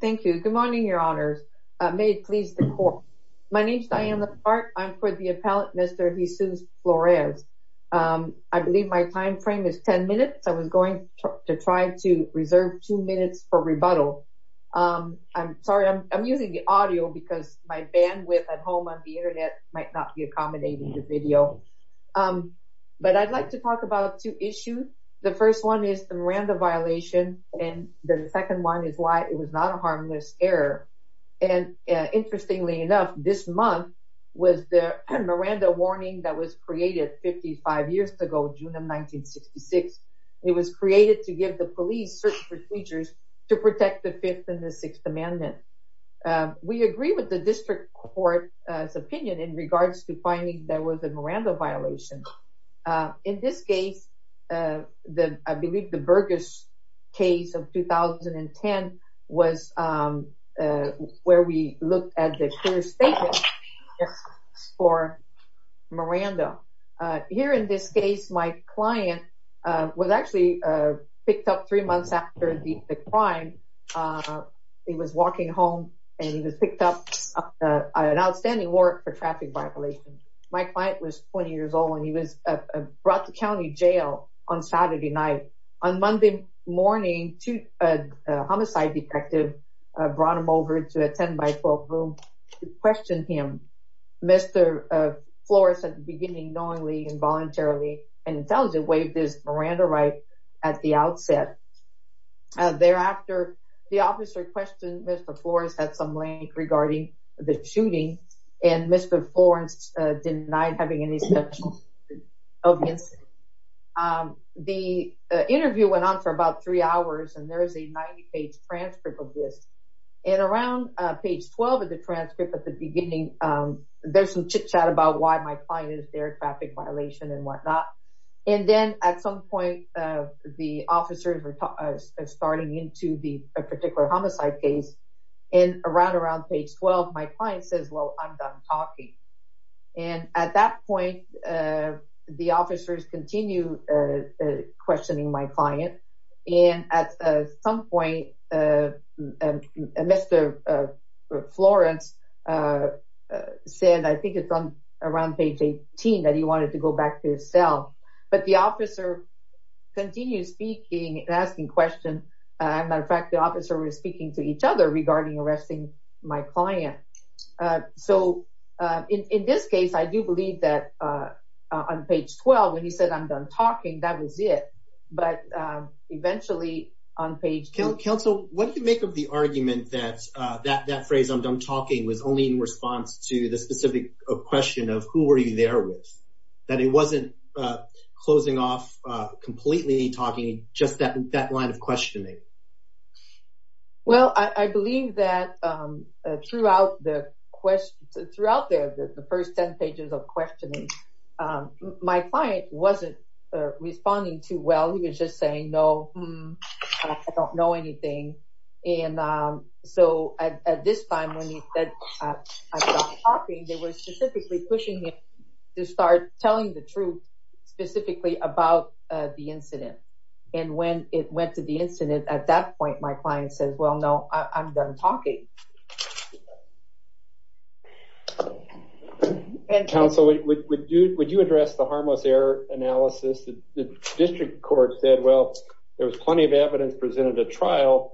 Thank you. Good morning, your honors. May it please the court. My name is Diana Park. I'm for the appellate Mr. Jesus Flores. I believe my time frame is 10 minutes. I was going to try to reserve two minutes for rebuttal. I'm sorry, I'm using the audio because my bandwidth at home on the internet might not be accommodating the video. But I'd like to talk about two issues. The first one is the Miranda violation. And the second one is why it was not a harmless error. And interestingly enough, this month was the Miranda warning that was created 55 years ago, June of 1966. It was created to give the police certain procedures to protect the Fifth and the Sixth Amendment. We agree with the district court's opinion in regards to finding there was a Miranda violation. In this case, I believe the Burgess case of 2010 was where we looked at the clear statement for Miranda. Here in this case, my client was actually picked up three months after the crime. He was walking home and he was picked up an outstanding warrant for traffic violation. My client was 20 years old when he was brought to county jail on Saturday night. On Monday morning to a homicide detective brought him over to a 10 by 12 room to question him. Mr. Flores at the beginning knowingly involuntarily and intelligently waived his Miranda right at the outset. Thereafter, the officer questioned Mr. Flores at some length regarding the shooting and Mr. Flores denied having any such of the incident. The interview went on for about three hours and there is a 90 page transcript of this. And around page 12 of the transcript at the beginning, there's some chit chat about why my client is there, traffic violation and whatnot. And then at some point, the officers are starting into the particular homicide case. And around around page 12, my client says, well, I'm done talking. And at that point, the officers continue questioning my client. And at some point, Mr. Flores said, I think it's on around page 18 that he wanted to go back to his cell. But the officer continues speaking and question. As a matter of fact, the officer was speaking to each other regarding arresting my client. So in this case, I do believe that on page 12, when he said I'm done talking, that was it. But eventually on page council, what do you make of the argument that that phrase I'm done talking was only in response to the specific question of who were you there with, that it questioning? Well, I believe that throughout the question throughout the first 10 pages of questioning, my client wasn't responding to well, he was just saying, No, I don't know anything. And so at this time, when he said, I'm talking, they were specifically pushing him to start telling the truth, specifically about the incident. And when it went to the incident, at that point, my client says, Well, no, I'm done talking. Counsel, would you address the harmless error analysis? The district court said, Well, there was plenty of evidence presented a trial.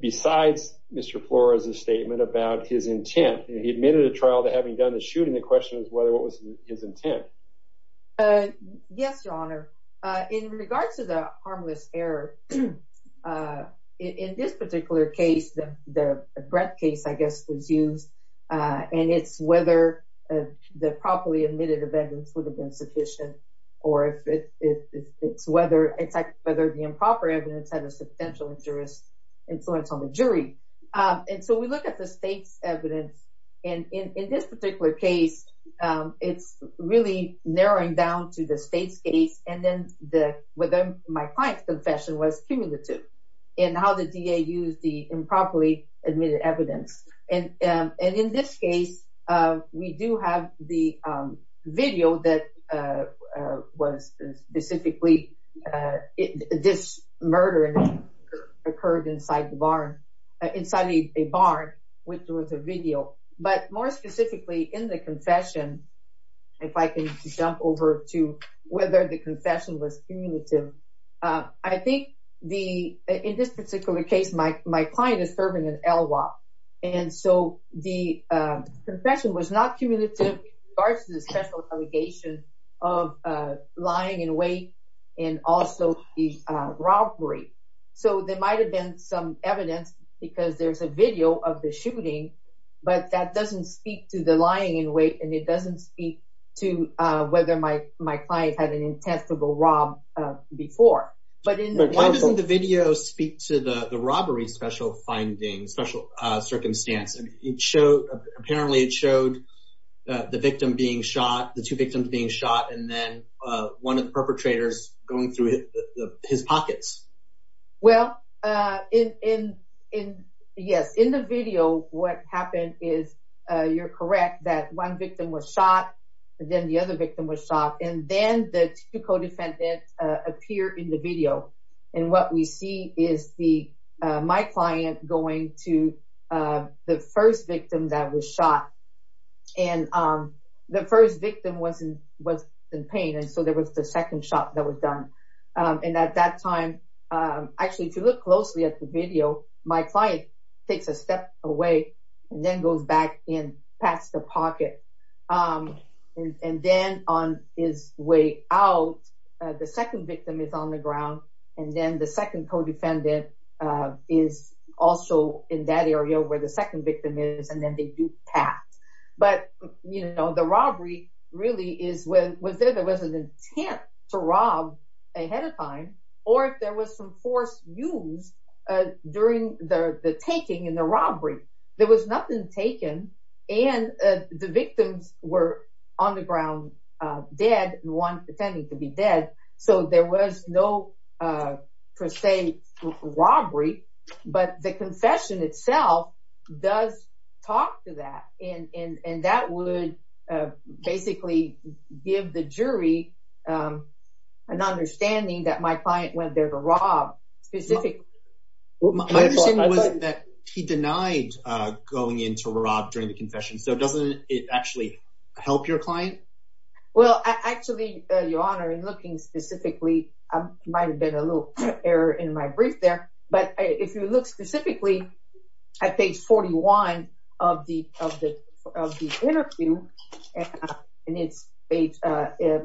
Besides Mr. Flores, a statement about his intent, he admitted a trial to having done the shooting. The question is whether what was his intent? Yes, Your Honor, in regards to the harmless error. In this particular case, the breath case, I guess, was used. And it's whether the properly admitted evidence would have been sufficient, or if it's whether it's whether the improper evidence had a substantial interest influence on the jury. And so we look at the state's evidence. And in this particular case, it's really narrowing down to the state's case. And then the within my client's confession was cumulative in how the DA used the improperly admitted evidence. And in this case, we do have the video that was specifically this murder occurred inside the barn, inside a barn, which was a video. But more specifically in the confession, if I can jump over to whether the confession was cumulative. I think the in this particular case, my my client is serving an confession was not cumulative versus special allegation of lying in wait, and also the robbery. So there might have been some evidence because there's a video of the shooting. But that doesn't speak to the lying in wait. And it doesn't speak to whether my my client had an intent to go rob before. But why doesn't the video speak to the the robbery special findings special circumstance and it showed apparently it showed the victim being shot, the two victims being shot, and then one of the perpetrators going through his pockets? Well, in in, in, yes, in the video, what happened is, you're correct that one victim was shot, then the other victim was shot. And then the two co defendant appear in the video. And what we see is the my client going to the first victim that was shot. And the first victim wasn't was in pain. And so there was the second shot that was done. And at that time, actually, if you look closely at the video, my client takes a step away, and then goes back in past the pocket. And then on his way out, the second victim is on the ground. And then the second co defendant is also in that area where the second victim is, and then they do tap. But, you know, the robbery really is when was there there was an intent to rob ahead of time, or if there was some force used during the taking in the robbery, there was nothing taken. And the victims were on the ground, dead one pretending to be dead. So there was no, per se, robbery, but the confession itself does talk to that. And that would basically give the jury an understanding that my client went there to rob specific. My understanding was that he denied going into rob during the confession. So doesn't it actually help your client? Well, actually, Your Honor, in looking specifically, I might have been a little error in my brief there. But if you look specifically, at page 41 of the interview,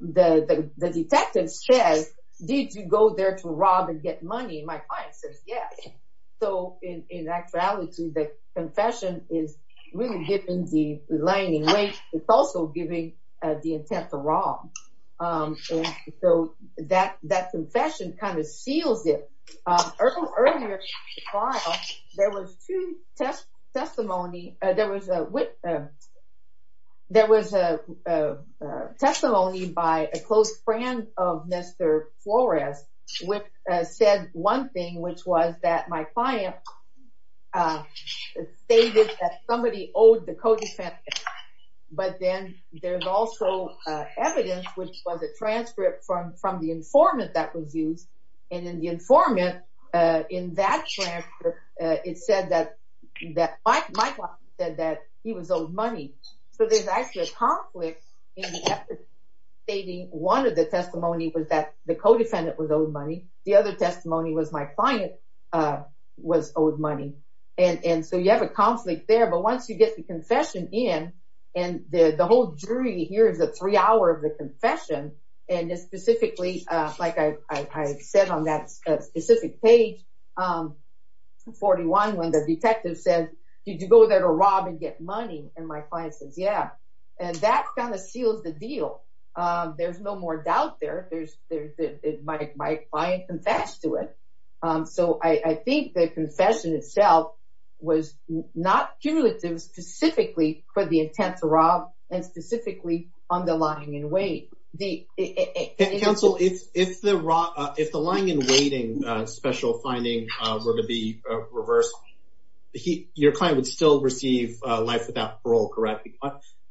the detective says, did you go there to rob and get money? My client says, yes. So in actuality, the confession is really giving the lying in wait, it's also giving the intent to rob. So that confession kind of seals it. Earlier in the trial, there was two testimonies. There was a testimony by a close friend of Mr. Flores, which said one thing, which was that my client stated that somebody owed the co-defendant. But then there's also evidence, which was a transcript from the informant that was used. And in the informant, in that transcript, it said that my client said that he was owed money. So there's actually a conflict in the evidence stating one of the testimony was that the co-defendant was owed money. The other testimony was my client was owed money. And so you have a conflict there. But once you get the confession in, and the whole jury here is a three hour of this, specifically, like I said on that specific page, 41, when the detective said, did you go there to rob and get money? And my client says, yeah. And that kind of seals the deal. There's no more doubt there. My client confessed to it. So I think the confession itself was not cumulative, specifically for the intent to rob and specifically on the lying in wait. The counsel, if the lying in waiting special finding were to be reversed, your client would still receive life without parole, correct?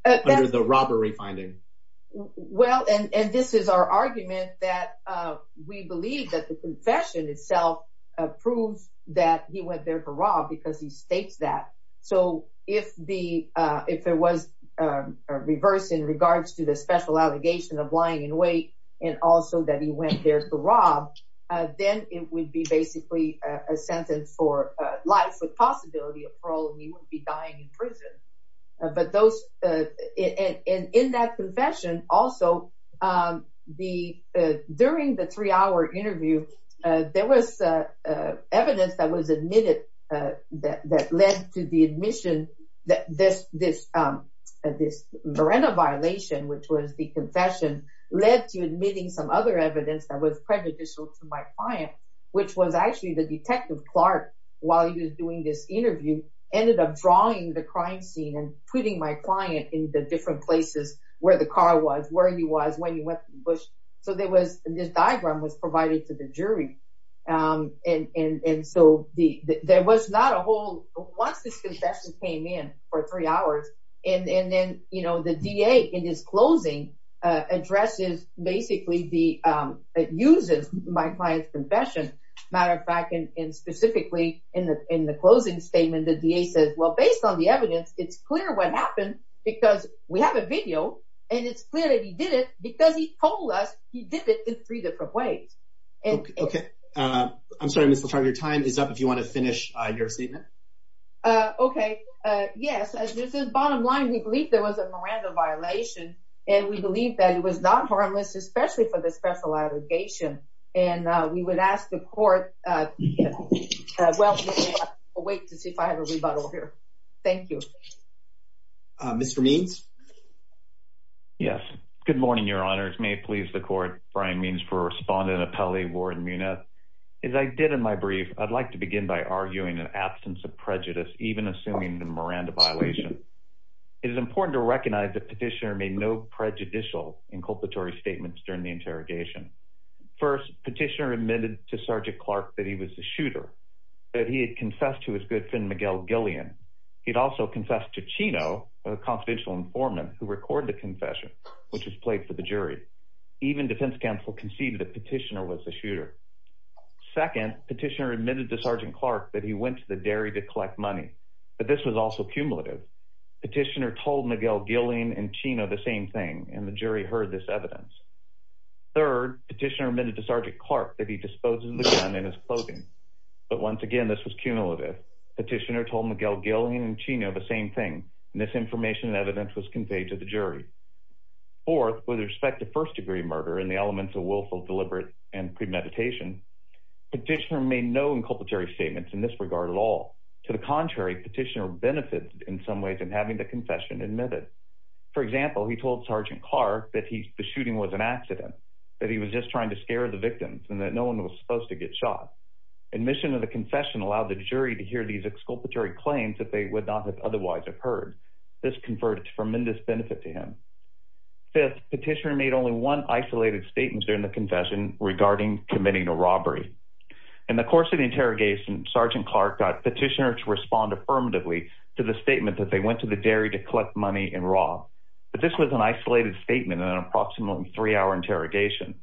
Under the robbery finding. Well, and this is our argument that we believe that the confession itself proves that he went there to rob because he states that. So if it was reversed in regards to the special allegation of lying in wait, and also that he went there to rob, then it would be basically a sentence for life with possibility of parole, and he wouldn't be dying in prison. But in that confession also, during the three hour interview, there was evidence that was that led to the admission that this Marena violation, which was the confession, led to admitting some other evidence that was prejudicial to my client, which was actually the detective Clark, while he was doing this interview, ended up drawing the crime scene and putting my client in the different places where the car was, where he was, when he went to the hospital. Once this confession came in for three hours, and then the DA in his closing addresses basically the uses my client's confession, matter of fact, and specifically in the closing statement, the DA says, well, based on the evidence, it's clear what happened because we have a video and it's clear that he did it because he told us he did it in three different ways. Okay. I'm sorry, Mr. Clark, your time is up if you want to finish your statement. Okay. Yes. As this is bottom line, we believe there was a Miranda violation, and we believe that it was not harmless, especially for the special allegation. And we would ask the court, well, wait to see if I have a rebuttal here. Thank you. Mr. Means. Yes. Good morning, your honors. May it please the court, Brian Means for respondent appellee, Warren Muniz. As I did in my brief, I'd like to begin by arguing an absence of prejudice, even assuming the Miranda violation. It is important to recognize that petitioner made no prejudicial inculpatory statements during the interrogation. First, petitioner admitted to Sergeant Clark that he was a shooter, that he had confessed to his good friend, Miguel Gillian. He'd also confessed to Chino, a confidential informant who recorded the confession, which was played for the jury. Even defense counsel conceded that petitioner was a shooter. Second, petitioner admitted to Sergeant Clark that he went to the dairy to collect money, but this was also cumulative. Petitioner told Miguel Gillian and Chino the same thing, and the jury heard this evidence. Third, petitioner admitted to Sergeant Clark that he disposed of the gun in his clothing. But once again, this was cumulative. Petitioner told Miguel Gillian and Chino the same thing, and this information and evidence was conveyed to the jury. Fourth, with respect to first-degree murder and the elements of willful deliberate and premeditation, petitioner made no inculpatory statements in this regard at all. To the contrary, petitioner benefited in some ways in having the confession admitted. For example, he told Sergeant Clark that the shooting was an accident, that he was just trying to scare the victims, and that no one was supposed to get shot. Admission of the confession allowed the jury to hear these exculpatory claims that they would not have otherwise have heard. This converted to tremendous benefit to him. Fifth, petitioner made only one isolated statement during the confession regarding committing a robbery. In the course of the interrogation, Sergeant Clark got petitioner to respond affirmatively to the statement that they went to the dairy to collect money and rob. But this was an isolated statement in an approximately three-hour interrogation.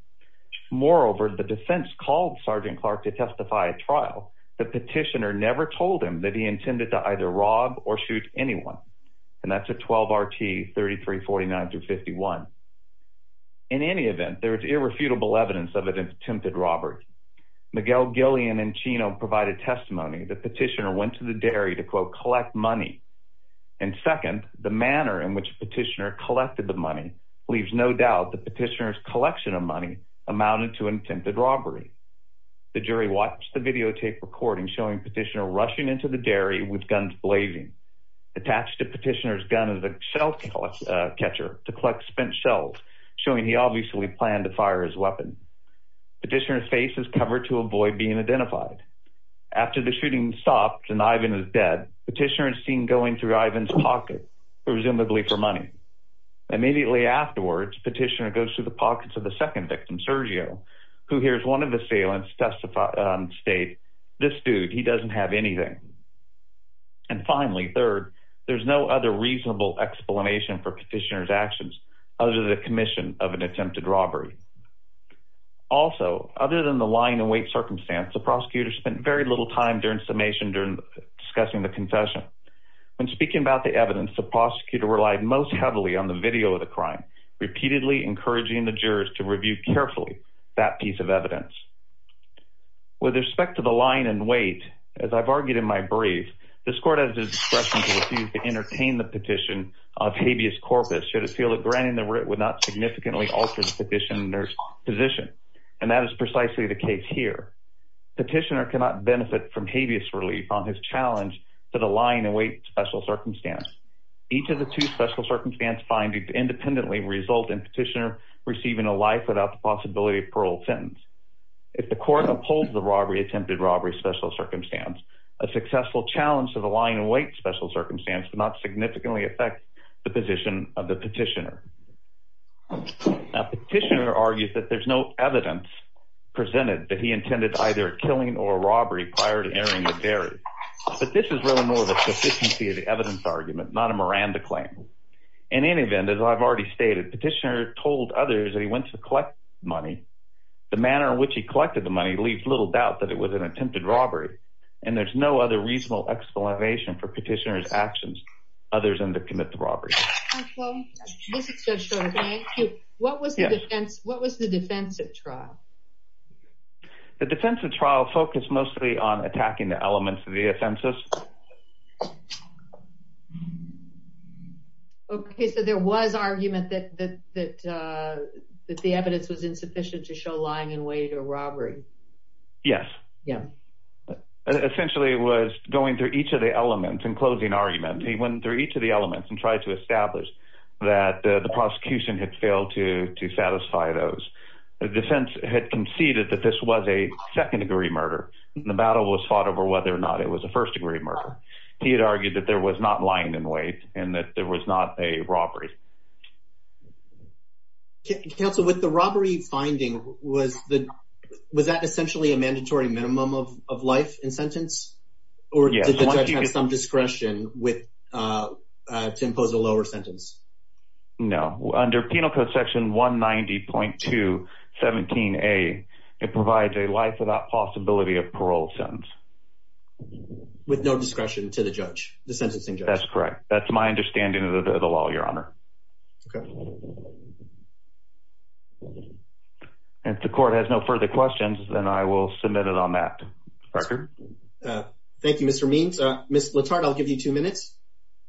Moreover, the defense called Sergeant Clark to testify at trial, but petitioner never told him that he intended to either rob or shoot anyone. And that's a 12-RT 3349-51. In any event, there was irrefutable evidence of an attempted robbery. Miguel, Gillian, and Chino provided testimony that petitioner went to the dairy to quote, collect money. And second, the manner in which petitioner collected the money leaves no doubt that petitioner's collection of money amounted to an attempted robbery. The jury watched the videotape recording showing petitioner rushing into the dairy with guns blazing. Attached to petitioner's gun is a shell catcher to collect spent shells, showing he obviously planned to fire his weapon. Petitioner's face is covered to avoid being identified. After the shooting stopped and Ivan is dead, petitioner is seen going through Ivan's pocket, presumably for money. Immediately afterwards, petitioner goes through the pockets of the second victim, Sergio, who hears one of the assailants state, this dude, he doesn't have anything. And finally, third, there's no other reasonable explanation for petitioner's actions other than the commission of an attempted robbery. Also, other than the lying in wait circumstance, the prosecutor spent very little time during summation, during discussing the confession. When speaking about the evidence, the prosecutor relied most heavily on the video of the crime, repeatedly encouraging the jurors to review carefully that piece of evidence. With respect to the lying in wait, as I've argued in my brief, this court has discretion to refuse to entertain the petition of habeas corpus, should it feel that granting the writ would not significantly alter the petitioner's position. And that is precisely the case here. Petitioner cannot benefit from habeas relief on his challenge to the lying in wait special circumstance. Each of the two special circumstance findings independently result in petitioner receiving a life without the possibility of parole sentence. If the court upholds the robbery attempted robbery special circumstance, a successful challenge to the lying in wait special circumstance would not significantly affect the position of the petitioner. Now, petitioner argues that there's no evidence presented that he intended either killing or robbery prior to entering the dairy. But this is really more the evidence argument, not a Miranda claim. In any event, as I've already stated, petitioner told others that he went to collect money. The manner in which he collected the money leaves little doubt that it was an attempted robbery. And there's no other reasonable explanation for petitioner's actions, other than to commit the robbery. What was the defense? What was the defense at trial? The defense of trial focused mostly on attacking the elements of the offensive. Okay, so there was argument that the evidence was insufficient to show lying in wait or robbery. Yes. Yeah. Essentially, it was going through each of the elements and closing argument. He went through each of the elements and tried to establish that the prosecution had failed to concede that this was a second-degree murder. The battle was fought over whether or not it was a first-degree murder. He had argued that there was not lying in wait and that there was not a robbery. Counsel, with the robbery finding, was that essentially a mandatory minimum of life in sentence? Or did the judge have some discretion to impose a lower sentence? No. Under Penal Code Section 190.217a, it provides a life without possibility of parole sentence. With no discretion to the judge, the sentencing judge? That's correct. That's my understanding of the law, Your Honor. If the court has no further questions, then I will submit it on that record. Thank you, Mr. Means. Ms. Letard, I'll give you two minutes.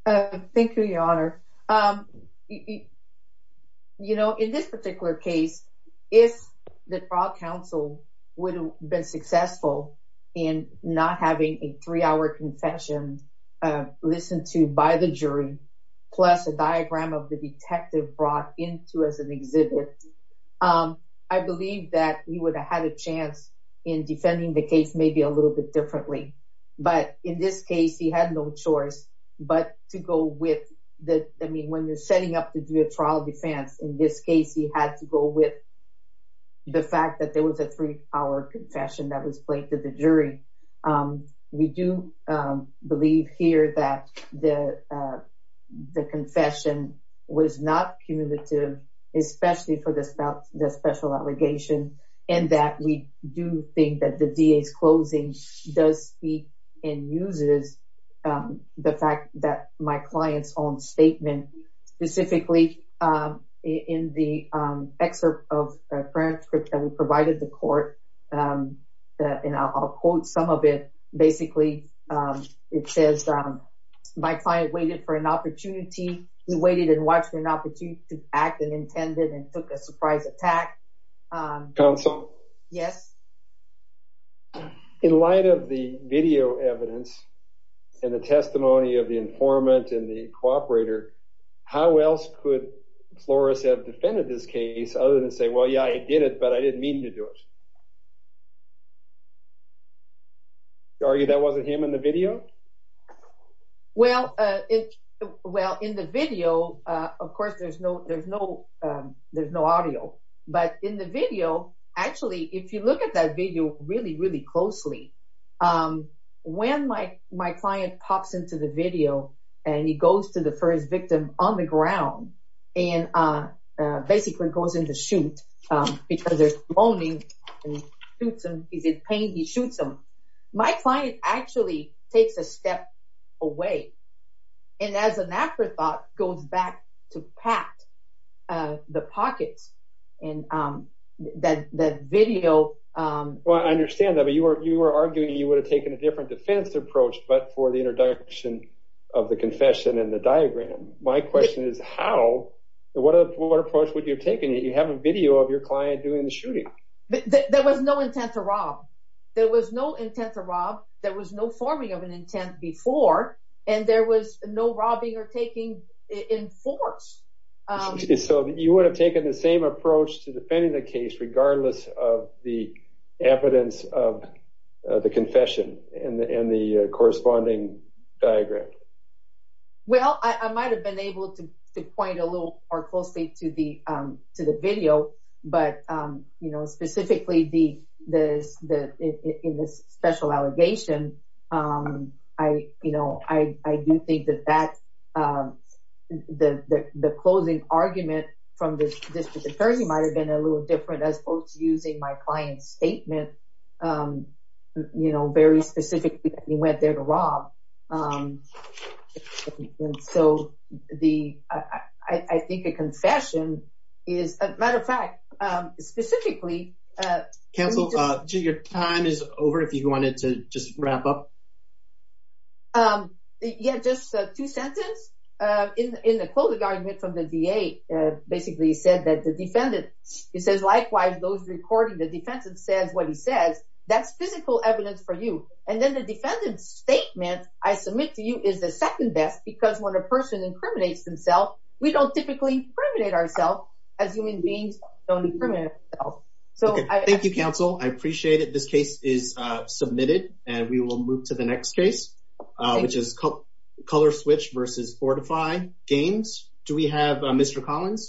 Thank you, Your Honor. In this particular case, if the trial counsel would have been successful in not having a three-hour confession listened to by the jury, plus a diagram of the detective brought into as an exhibit, I believe that he would have had a chance in defending the case a little bit differently. But in this case, he had no choice but to go with—I mean, when you're setting up to do a trial defense, in this case, he had to go with the fact that there was a three-hour confession that was played to the jury. We do believe here that the confession was not cumulative, especially for the special allegation, and that we do think that the DA's closing does speak and uses the fact that my client's own statement, specifically in the excerpt of a transcript that we provided the court, and I'll quote some of it. Basically, it says, my client waited for an opportunity—he waited and watched for an opportunity to act and intended and took a surprise attack. Counsel? Yes? In light of the video evidence and the testimony of the informant and the cooperator, how else could Flores have defended this case other than say, well, yeah, I did it, but I didn't mean to do it? You argue that wasn't him in the video? Well, in the video, of course, there's no audio, but in the video, actually, if you look at that video really, really closely, when my client pops into the video and he goes to the first victim on the ground and basically goes in to shoot because there's moaning and shoots him, he's in pain, he shoots him, my client actually takes a step away, and as an afterthought, goes back to Pat, the pockets, and that video— Well, I understand that, but you were arguing you would have taken a different defense approach, but for the introduction of the confession and the diagram. My question is how, what approach would you have taken if you have a video of your client doing the shooting? There was no intent to rob, there was no intent to rob, there was no forming of an intent before, and there was no robbing or taking in force. So you would have taken the same approach to defending the case regardless of the evidence of the confession and the corresponding diagram? Well, I might have been able to point a little more closely to the video, but specifically in this special allegation, I do think that the closing argument from the district attorney might have been a little different as opposed to using my client's statement you know, very specifically that he went there to rob. So I think a confession is, as a matter of fact, specifically— Counsel, your time is over if you wanted to just wrap up. Yeah, just two sentences. In the closing argument from the DA, basically he said that the defendant, he says, likewise, those recording the defense says what he says, that's physical evidence for you. And then the defendant's statement I submit to you is the second best because when a person incriminates himself, we don't typically incriminate ourselves as human beings don't incriminate ourselves. Okay, thank you, Counsel. I appreciate it. This case is submitted and we will move to the next case, which is Color Switch versus Fortify Games. Do we have Mr. Collins?